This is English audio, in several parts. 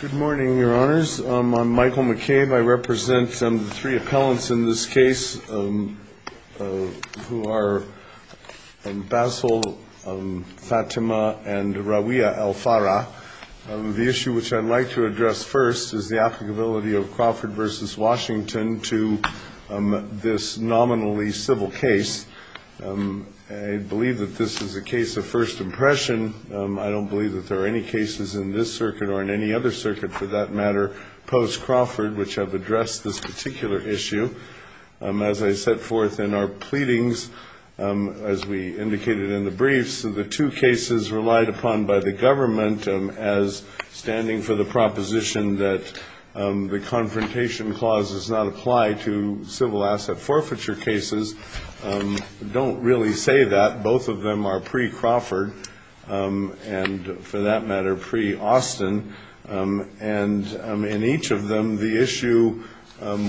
Good morning, Your Honors. I'm Michael McCabe. I represent the three appellants in this case, who are Basil, Fatima, and Rawia al-Farah. The issue which I'd like to address first is the applicability of Crawford v. Washington to this nominally civil case. I believe that this is a case of first impression. I don't believe that there are any cases in this circuit or in any other circuit, for that matter, post-Crawford, which have addressed this particular issue. As I set forth in our pleadings, as we indicated in the briefs, the two cases relied upon by the government as standing for the proposition that the Confrontation Clause does not apply to civil asset forfeiture cases don't really say that. Both of them are pre-Crawford and, for that matter, pre-Austin. And in each of them, the issue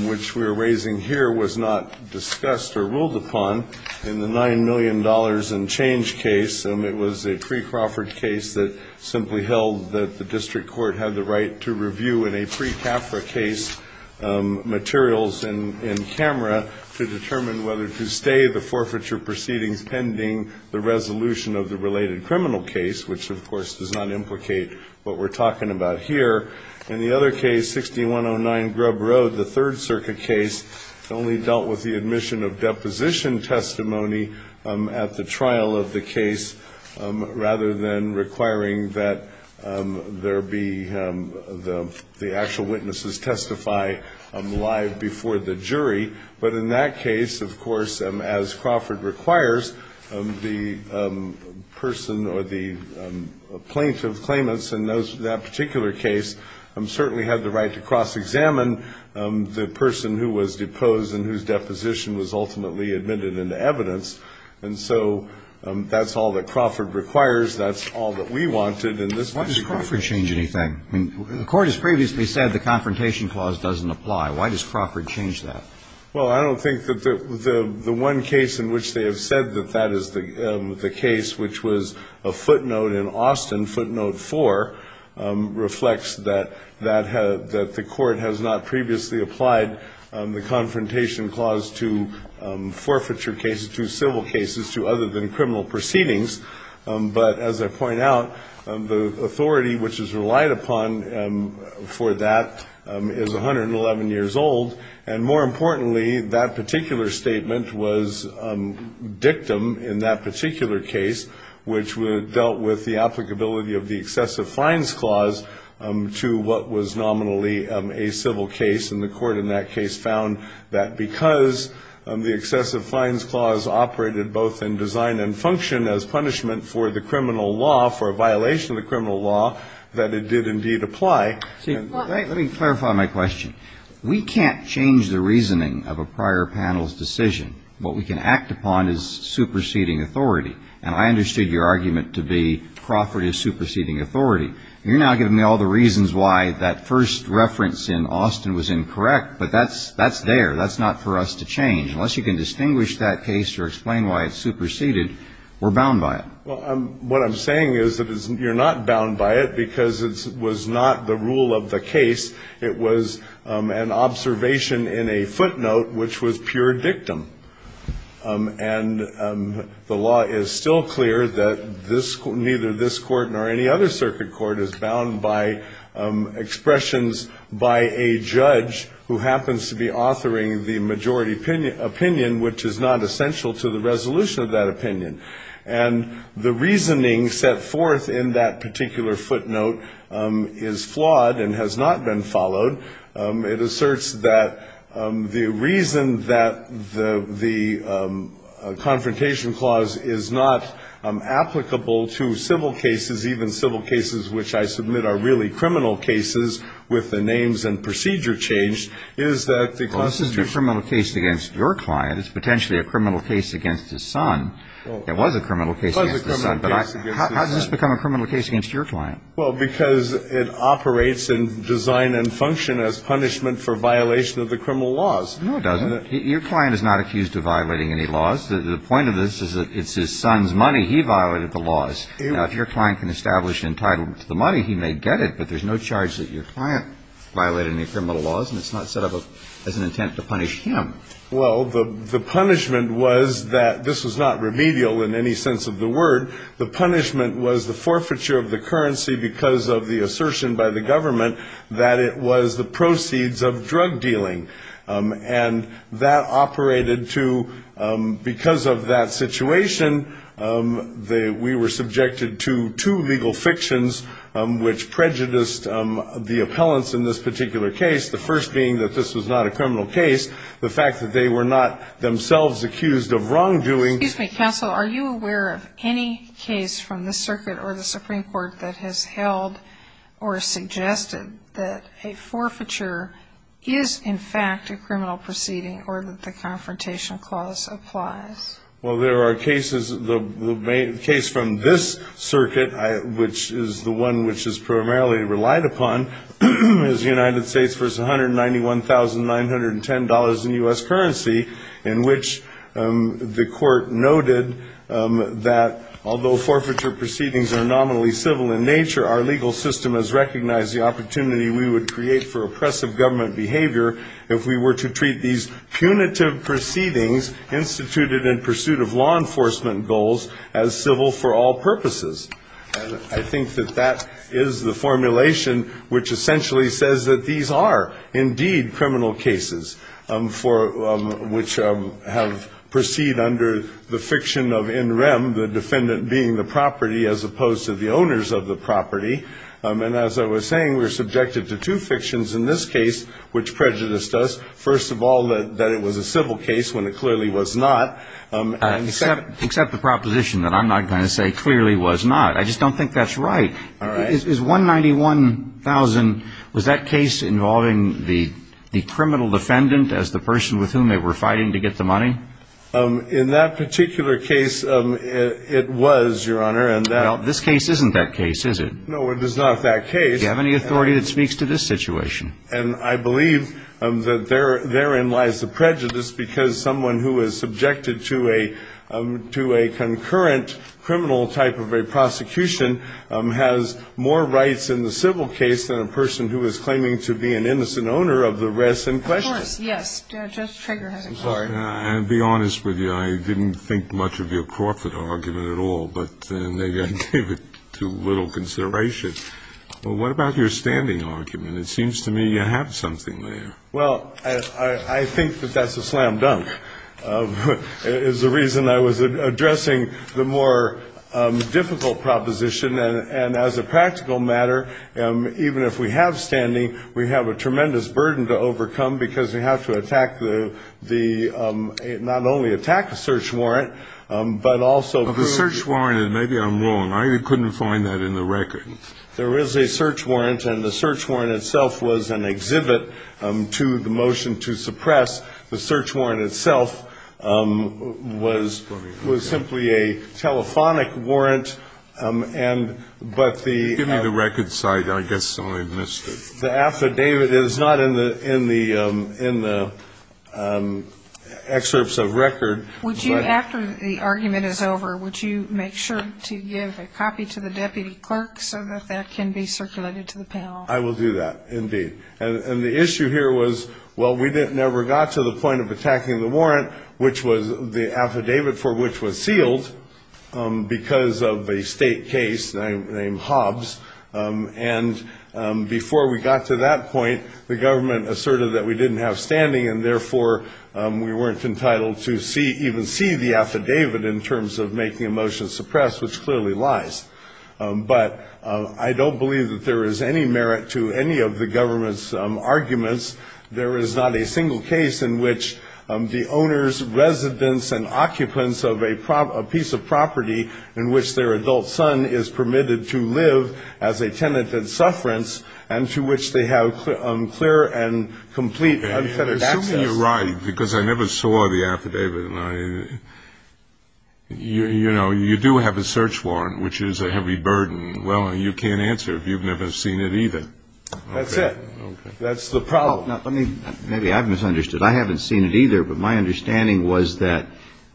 which we are raising here was not discussed or ruled upon in the $9 million and change case. It was a pre-Crawford case that simply held that the district court had the right to review in a pre-CAFRA case materials in camera to determine whether to stay the forfeiture proceedings pending the resolution of the related criminal case, which, of course, does not implicate what we're talking about here. In the other case, 6109 Grubb Road, the Third Circuit case, only dealt with the admission of deposition testimony at the trial of the case, rather than requiring that there be the actual witnesses testify live before the jury. But in that case, of course, as Crawford requires, the person or the plaintiff's claimants in that particular case certainly had the right to cross-examine the person who was deposed and whose deposition was ultimately admitted into evidence. And so that's all that Crawford requires. That's all that we wanted in this particular case. Why does Crawford change anything? I mean, the Court has previously said the Confrontation Clause doesn't apply. Why does Crawford change that? Well, I don't think that the one case in which they have said that that is the case, which was a footnote in Austin, footnote 4, reflects that the Court has not previously applied the Confrontation Clause to forfeiture cases, to civil cases, to other than criminal proceedings. But as I point out, the authority which is relied upon for that is 111 years old. And more importantly, that particular statement was dictum in that particular case, which dealt with the applicability of the Excessive Fines Clause to what was nominally a civil case. And the Court in that case found that because the Excessive Fines Clause operated both in design and function as punishment for the criminal law, for a violation of the criminal law, that it did indeed apply. Let me clarify my question. We can't change the reasoning of a prior panel's decision. What we can act upon is superseding authority. And I understood your argument to be Crawford is superseding authority. You're now giving me all the reasons why that first reference in Austin was incorrect, but that's there. That's not for us to change. Unless you can distinguish that case or explain why it's superseded, we're bound by it. Well, what I'm saying is that you're not bound by it because it was not the rule of the case. It was an observation in a footnote which was pure dictum. And the law is still clear that this court, neither this court nor any other circuit court, is bound by expressions by a judge who happens to be authoring the majority opinion, which is not essential to the resolution of that opinion. And the Court The reasoning set forth in that particular footnote is flawed and has not been followed. It asserts that the reason that the confrontation clause is not applicable to civil cases, even civil cases which I submit are really criminal cases, with the names and procedure changed, is that the Constitution ---- Well, this is a criminal case against your client. It's potentially a criminal case against his son. Well ---- It was a criminal case against his son. But I ---- How does this become a criminal case against your client? Well, because it operates in design and function as punishment for violation of the criminal laws. No, it doesn't. Your client is not accused of violating any laws. The point of this is that it's his son's money. He violated the laws. Now, if your client can establish entitlement to the money, he may get it, but there's no charge that your client violated any criminal laws, and it's not set up as an intent to punish him. Well, the punishment was that this was not remedial in any sense of the word. The punishment was the forfeiture of the currency because of the assertion by the government that it was the proceeds of drug dealing. And that operated to because of that situation, we were subjected to two legal fictions which prejudiced the appellants in this particular case, the first being that this was not a criminal case, the fact that they were not themselves accused of wrongdoing. Excuse me, counsel. Are you aware of any case from the circuit or the Supreme Court that has held or suggested that a forfeiture is, in fact, a criminal proceeding or that the confrontation clause applies? Well, there are cases. The case from this circuit, which is the one which is in U.S. currency, in which the court noted that although forfeiture proceedings are nominally civil in nature, our legal system has recognized the opportunity we would create for oppressive government behavior if we were to treat these punitive proceedings instituted in pursuit of law enforcement goals as civil for all purposes. And I think that that is the formulation which essentially says that these are, indeed, criminal cases for which have proceed under the fiction of in rem, the defendant being the property as opposed to the owners of the property. And as I was saying, we're subjected to two fictions in this case which prejudiced us. First of all, that it was a civil case when it clearly was not. Except the proposition that I'm not going to say clearly was not. I just don't think that's right. Is $191,000, was that case involving the criminal defendant as the person with whom they were fighting to get the money? In that particular case, it was, Your Honor. Now, this case isn't that case, is it? No, it is not that case. Do you have any authority that speaks to this situation? And I believe that therein lies the prejudice because someone who is subjected to a concurrent criminal type of a prosecution has more rights in the civil case than a person who is claiming to be an innocent owner of the rest in question. Of course, yes. Judge Trager has a point. I'm sorry. I'll be honest with you. I didn't think much of your Crawford argument at all, but I gave it to little consideration. What about your standing argument? It seems to me you have something there. Well, I think that that's a slam dunk is the reason I was addressing the more difficult proposition. And as a practical matter, even if we have standing, we have a tremendous burden to overcome because we have to attack the not only attack the search warrant, but also prove The search warrant, and maybe I'm wrong, I couldn't find that in the record. There is a search warrant and the search warrant itself was an exhibit to the motion to suppress the search warrant itself was was simply a telephonic warrant. And but the give me the record site, I guess I missed it. The affidavit is not in the in the in the excerpts of record. Would you after the argument is over, would you make sure to give a copy to the deputy clerk so that that can be circulated to the panel? I will do that. Indeed. And the issue here was, well, we didn't never got to the point of attacking the warrant, which was the affidavit for which was sealed because of a state case named Hobbs. And before we got to that point, the government asserted that we didn't have standing and therefore we weren't entitled to see even see the affidavit in terms of But I don't believe that there is any merit to any of the government's arguments. There is not a single case in which the owner's residence and occupants of a piece of property in which their adult son is permitted to live as a tenant and sufferance and to which they have clear and complete unfettered access. You're right, because I never saw the affidavit and I you know, you do have a search warrant, which is a heavy burden. Well, you can't answer if you've never seen it either. That's it. That's the problem. Let me maybe I've misunderstood. I haven't seen it either. But my understanding was that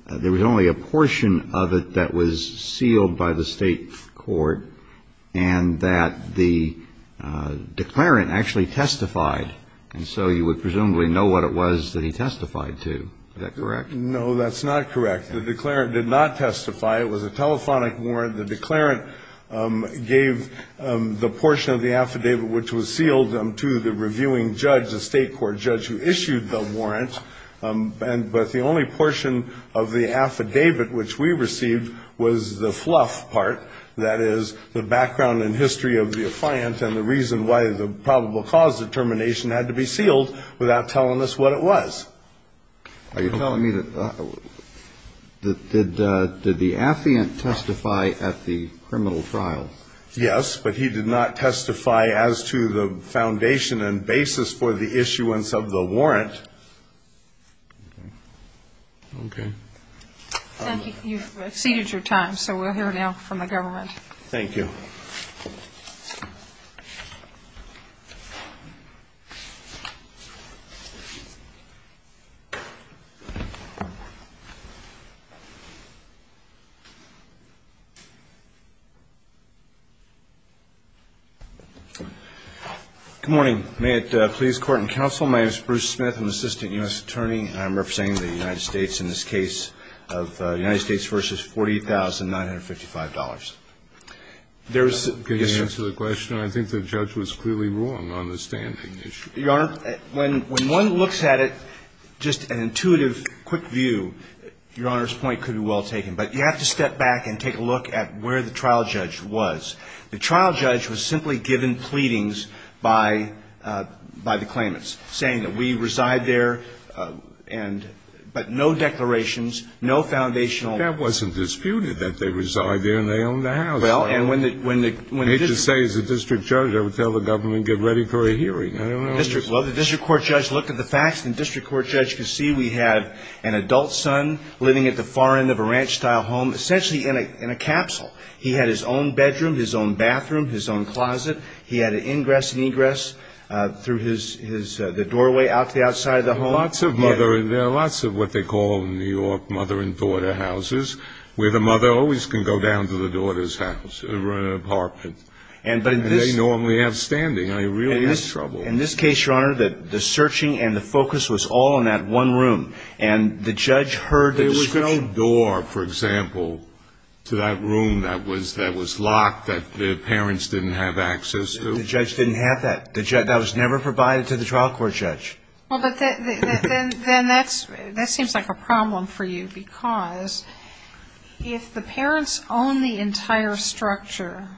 there was only a portion of it that was sealed by the state court and that the declarant actually testified. And so you would presumably know what it was that he testified to. Is that correct? No, that's not correct. The declarant did not testify. It was a telephonic warrant. The declarant gave the portion of the affidavit which was sealed to the reviewing judge, the state court judge who issued the warrant. But the only portion of the affidavit which we received was the fluff part. That is, the background and history of the affiant and the reason why the probable cause determination had to be sealed without telling us what it was. Are you telling me that did the affiant testify at the criminal trial? Yes, but he did not testify as to the foundation and basis for the issuance of the warrant. Okay. And you've exceeded your time, so we'll hear now from the government. Thank you. Good morning. May it please the Court and counsel, my name is Bruce Smith, an assistant U.S. Attorney. I'm representing the United States in this case of the United States v. $40,955. There's the issue. I'm not going to answer the question. I think the judge was clearly wrong on the standing issue. Your Honor, when one looks at it, just an intuitive, quick view, your Honor's point could be well taken. But you have to step back and take a look at where the trial judge was. The trial judge was simply given pleadings by the claimants, saying that we reside there, but no declarations, no foundational. That wasn't disputed, that they reside there and they own the house. Well, and when the district judge, I would tell the government, get ready for a hearing. Well, the district court judge looked at the facts and the district court judge could see we had an adult son living at the far end of a ranch-style home, essentially in a capsule. He had his own bedroom, his own bathroom, his own closet. He had an ingress and egress through the doorway out to the outside of the home. Lots of mother, there are lots of what they call New York mother and daughter houses, where the mother always can go down to the daughter's house or apartment. And they normally have standing. In this case, Your Honor, the searching and the focus was all on that one room. And the judge heard the description. There was no door, for example, to that room that was locked that the parents didn't have access to. The judge didn't have that. That was never provided to the trial court judge. Well, but then that seems like a problem for you, because if the parents own the entire structure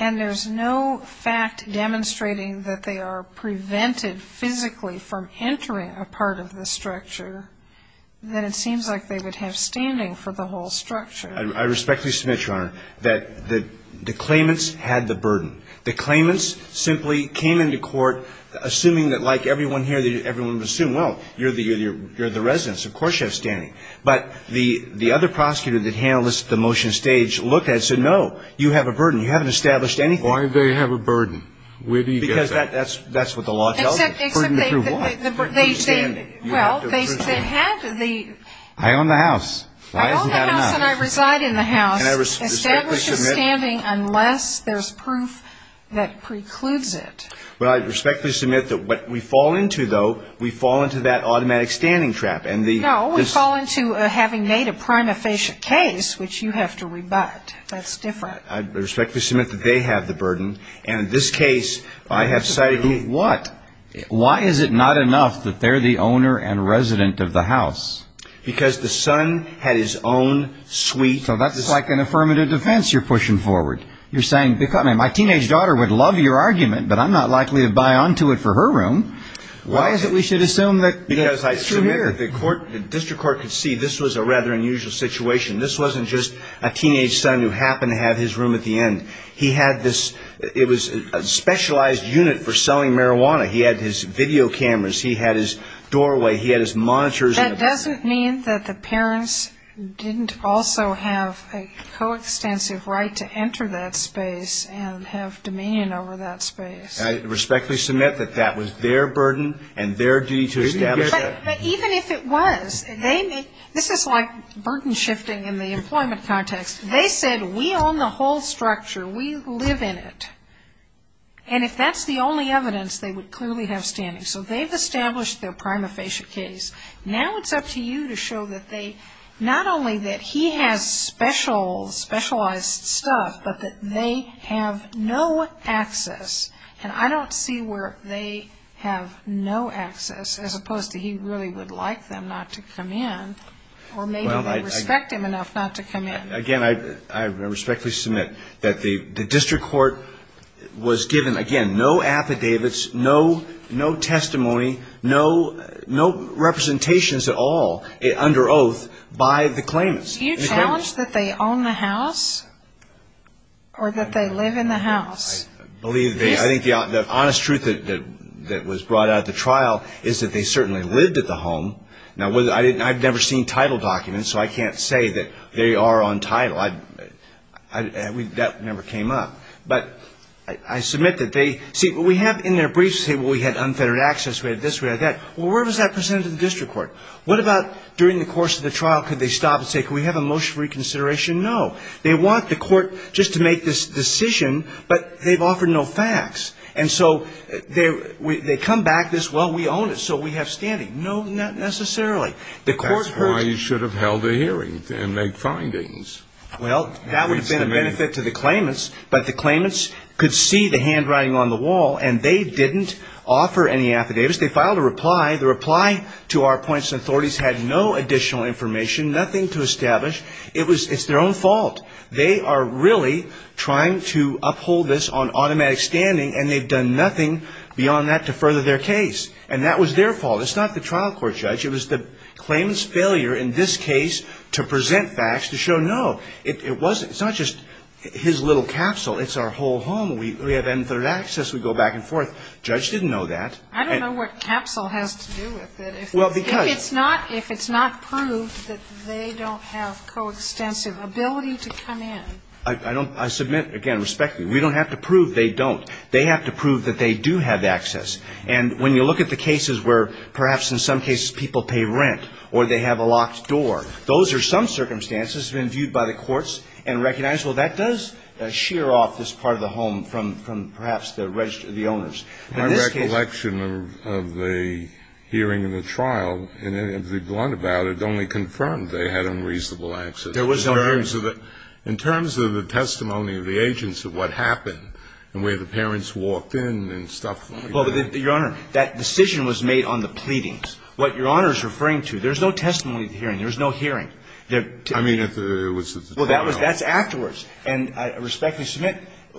and there's no fact demonstrating that they are prevented physically from entering a part of the structure, then it seems like they would have standing for the whole structure. I respectfully submit, Your Honor, that the claimants had the burden. The claimants simply came into court assuming that, like everyone here, everyone would assume, well, you're the resident, so of course you have standing. But the other prosecutor that handled this at the motion stage looked at it and said, no, you have a burden. You haven't established anything. Why do they have a burden? Where do you get that? Because that's what the law tells you. Burden to prove what? Well, they had the... I own the house. I own the house and I reside in the house. Establishes standing unless there's proof that precludes it. Well, I respectfully submit that what we fall into, though, we fall into that automatic standing trap. No, we fall into having made a prima facie case, which you have to rebut. That's different. I respectfully submit that they have the burden. And in this case, I have cited... What? Why is it not enough that they're the owner and resident of the house? Because the son had his own suite. So that's like an affirmative defense you're pushing forward. You're saying, my teenage daughter would love your argument, but I'm not likely to buy onto it for her room. Why is it we should assume that... Because I submit that the district court could see this was a rather unusual situation. This wasn't just a teenage son who happened to have his room at the end. He had this... It was a specialized unit for selling marijuana. He had his video cameras. He had his doorway. He had his monitors. That doesn't mean that the parents didn't also have a coextensive right to enter that space and have dominion over that space. I respectfully submit that that was their burden and their duty to establish that. Even if it was, they may... This is like burden shifting in the employment context. They said, we own the whole structure. We live in it. And if that's the only evidence, they would clearly have standing. So they've established their prima facie case. Now it's up to you to show that they... Not only that he has specialized stuff, but that they have no access. And I don't see where they have no access as opposed to he really would like them not to come in. Or maybe they respect him enough not to come in. Again, I respectfully submit that the district court was given, again, no affidavits, no testimony, no representations at all under oath by the claimants. Do you challenge that they own the house? Or that they live in the house? I think the honest truth that was brought out at the trial is that they certainly lived at the home. Now, I've never seen title documents, so I can't say that they are on title. That never came up. But I submit that they... See, what we have in their briefs, we had unfettered access, we had this, we had that. Well, where was that presented to the district court? What about during the course of the trial, could they stop and say, can we have a motion for reconsideration? No. They want the court just to make this decision, but they've offered no facts. And so they come back this, well, we own it, so we have standing. No, not necessarily. That's why you should have held a hearing and made findings. Well, that would have been a benefit to the claimants, but the claimants could see the handwriting on the wall and they didn't offer any affidavits. They filed a reply. The reply to our points and authorities had no additional information, nothing to establish. It's their own fault. They are really trying to uphold this on automatic standing and they've done nothing beyond that to further their case. And that was their fault. It's not the trial court's, Judge. It was the claimant's failure in this case to present facts to show no. It's not just his little capsule. It's our whole home. We have unfettered access, we go back and forth. Judge didn't know that. I don't know what capsule has to do with it. Well, because... It's not if it's not proved that they don't have coextensive ability to come in. I submit, again, respectfully, we don't have to prove they don't. They have to prove that they do have access. And when you look at the cases where perhaps in some cases people pay rent or they have a locked door, those are some circumstances that have been viewed by the courts and recognized, well, that does shear off this part of the home from perhaps the owners. My recollection of the hearing in the trial, and to be blunt about it, only confirmed they had unreasonable access. There was no hearing. In terms of the testimony of the agents of what happened and where the parents walked in and stuff like that. Well, Your Honor, that decision was made on the pleadings. What Your Honor is referring to, there's no testimony at the hearing. There was no hearing. I mean, it was at the trial. Well, that's afterwards. And I respectfully submit,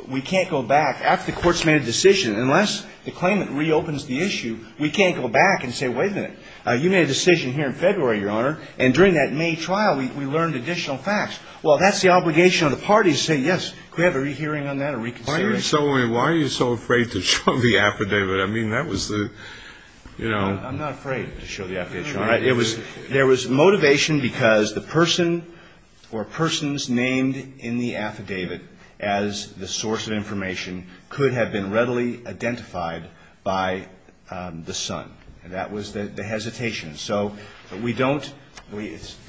we can't go back. After the court's made a decision, unless the claimant reopens the issue, we can't go back and say, wait a minute. You made a decision here in February, Your Honor, and during that May trial we learned additional facts. Well, that's the obligation of the parties to say, yes, we have a rehearing on that, a reconsideration. Why are you so afraid to show the affidavit? I mean, that was the, you know. I'm not afraid to show the affidavit, Your Honor. There was motivation because the person or persons named in the affidavit as the source of information could have been readily identified by the son. That was the hesitation. So we don't.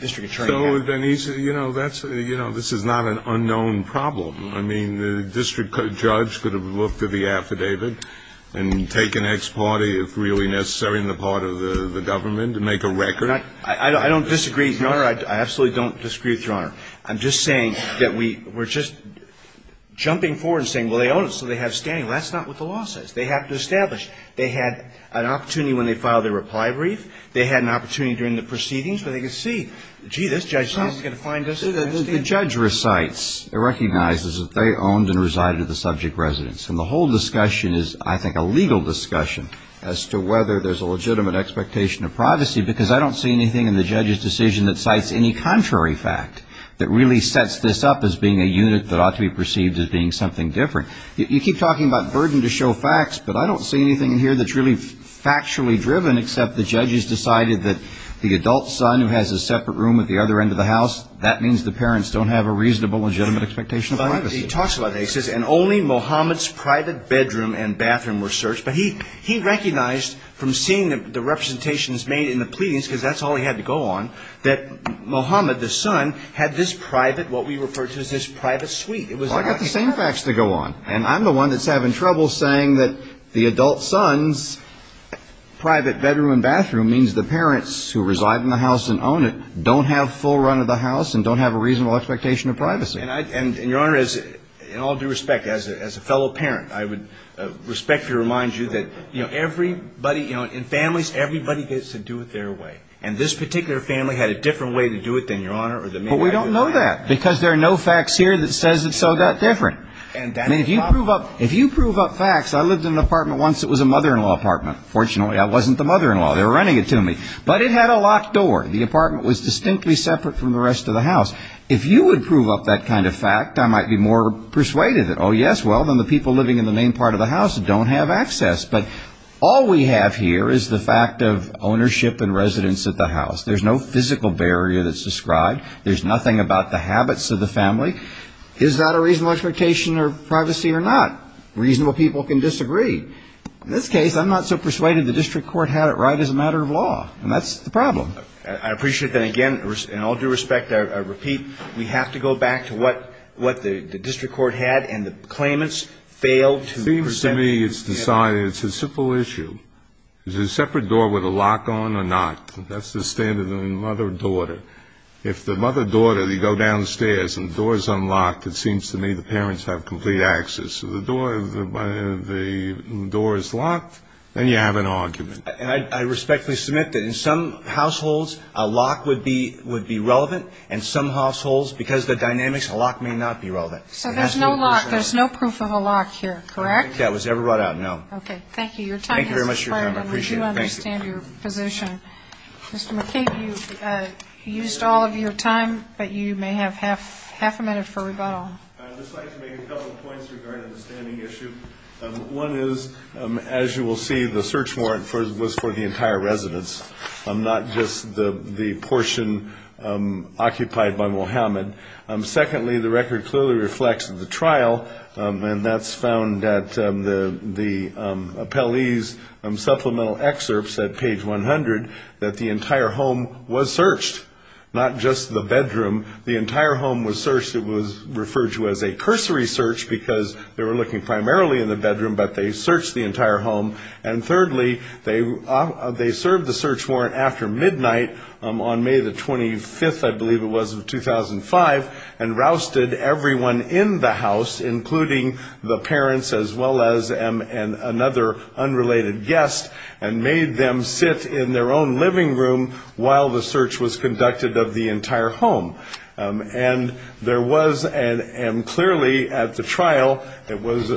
District Attorney. So, Denise, you know, this is not an unknown problem. I mean, the district judge could have looked at the affidavit and taken ex parte, if really necessary, in the part of the government to make a record. I don't disagree, Your Honor. I absolutely don't disagree with Your Honor. I'm just saying that we're just jumping forward and saying, well, they own it so they have standing. Well, that's not what the law says. They have to establish. They had an opportunity when they filed their reply brief. They had an opportunity during the proceedings where they could see, gee, this judge is not going to find us. The judge recites, recognizes that they owned and resided at the subject residence. And the whole discussion is, I think, a legal discussion as to whether there's a legitimate expectation of privacy because I don't see anything in the judge's decision that cites any contrary fact that really sets this up as being a unit that ought to be perceived as being something different. You keep talking about burden to show facts, but I don't see anything in here that's really factually driven except the judge has decided that the adult son who has a separate room at the other end of the house, that means the parents don't have a reasonable, legitimate expectation of privacy. And only Mohammed's private bedroom and bathroom were searched. But he recognized from seeing the representations made in the pleadings, because that's all he had to go on, that Mohammed, the son, had this private, what we refer to as this private suite. Well, I've got the same facts to go on. And I'm the one that's having trouble saying that the adult son's private bedroom and bathroom means the parents who reside in the house and own it don't have full run of the house and don't have a reasonable expectation of privacy. And, Your Honor, in all due respect, as a fellow parent, I would respectfully remind you that everybody, in families, everybody gets to do it their way. And this particular family had a different way to do it than Your Honor. But we don't know that, because there are no facts here that says it's all that different. I mean, if you prove up facts, I lived in an apartment once that was a mother-in-law apartment. Fortunately, I wasn't the mother-in-law. They were running it to me. But it had a locked door. The apartment was distinctly separate from the rest of the house. If you would prove up that kind of fact, I might be more persuaded that, oh, yes, well, then the people living in the main part of the house don't have access. But all we have here is the fact of ownership and residence at the house. There's no physical barrier that's described. There's nothing about the habits of the family. Is that a reasonable expectation of privacy or not? Reasonable people can disagree. In this case, I'm not so persuaded the district court had it right as a matter of law. And that's the problem. I appreciate that. Again, in all due respect, I repeat, we have to go back to what the district court had and the claimants failed to present. It seems to me it's decided. It's a simple issue. Is there a separate door with a lock on or not? That's the standard of the mother-daughter. If the mother-daughter, you go downstairs and the door is unlocked, it seems to me the parents have complete access. If the door is locked, then you have an argument. I respectfully submit that in some households a lock would be relevant and some households, because of the dynamics, a lock may not be relevant. So there's no lock. There's no proof of a lock here, correct? I don't think that was ever brought out, no. Okay. Thank you. Your time has expired. Thank you very much for your time. I appreciate it. I do understand your position. Mr. McCabe, you've used all of your time, but you may have half a minute for rebuttal. I'd just like to make a couple points regarding the standing issue. One is, as you will see, the search warrant was for the entire residence, not just the portion occupied by Muhammad. Secondly, the record clearly reflects the trial, and that's found at the appellee's supplemental excerpts at page 100 that the entire home was searched, not just the bedroom. The entire home was searched. It was referred to as a cursory search because they were looking primarily in the bedroom, but they searched the entire home. And thirdly, they served the search warrant after midnight on May the 25th, I believe it was, of 2005, and rousted everyone in the house, including the parents as well as another unrelated guest, and made them sit in their own living room while the search was conducted of the entire home. And there was clearly at the trial that was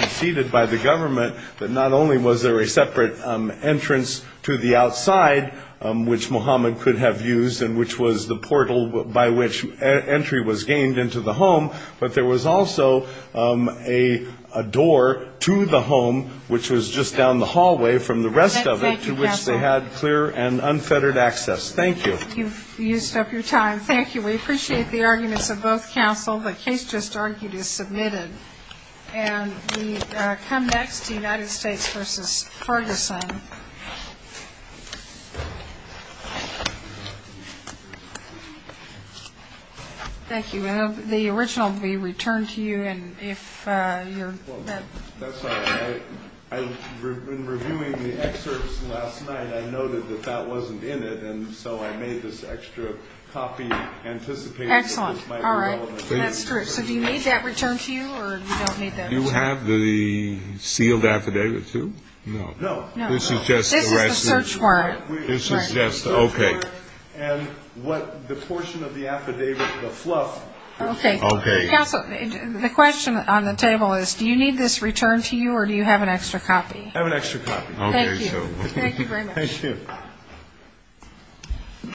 conceded by the government that not only was there a separate entrance to the outside, which Muhammad could have used and which was the portal by which entry was gained into the home, but there was also a door to the home, which was just down the hallway from the rest of it, to which they had clear and unfettered access. Thank you. You've used up your time. Thank you. We appreciate the arguments of both counsel. The case just argued is submitted. And we come next to United States v. Ferguson. Thank you. The original will be returned to you, and if you're... That's all right. In reviewing the excerpts last night, I noted that that wasn't in it, and so I made this extra copy, anticipating that this might be relevant. Excellent. All right. That's true. So do you need that returned to you, or you don't need that? Do you have the sealed affidavit, too? No. No. This is just the search warrant. This is just... Okay. And what the portion of the affidavit, the fluff... Okay. Okay. Counsel, the question on the table is, do you need this returned to you, or do you have an extra copy? I have an extra copy. Okay. Thank you. Thank you very much. Thank you.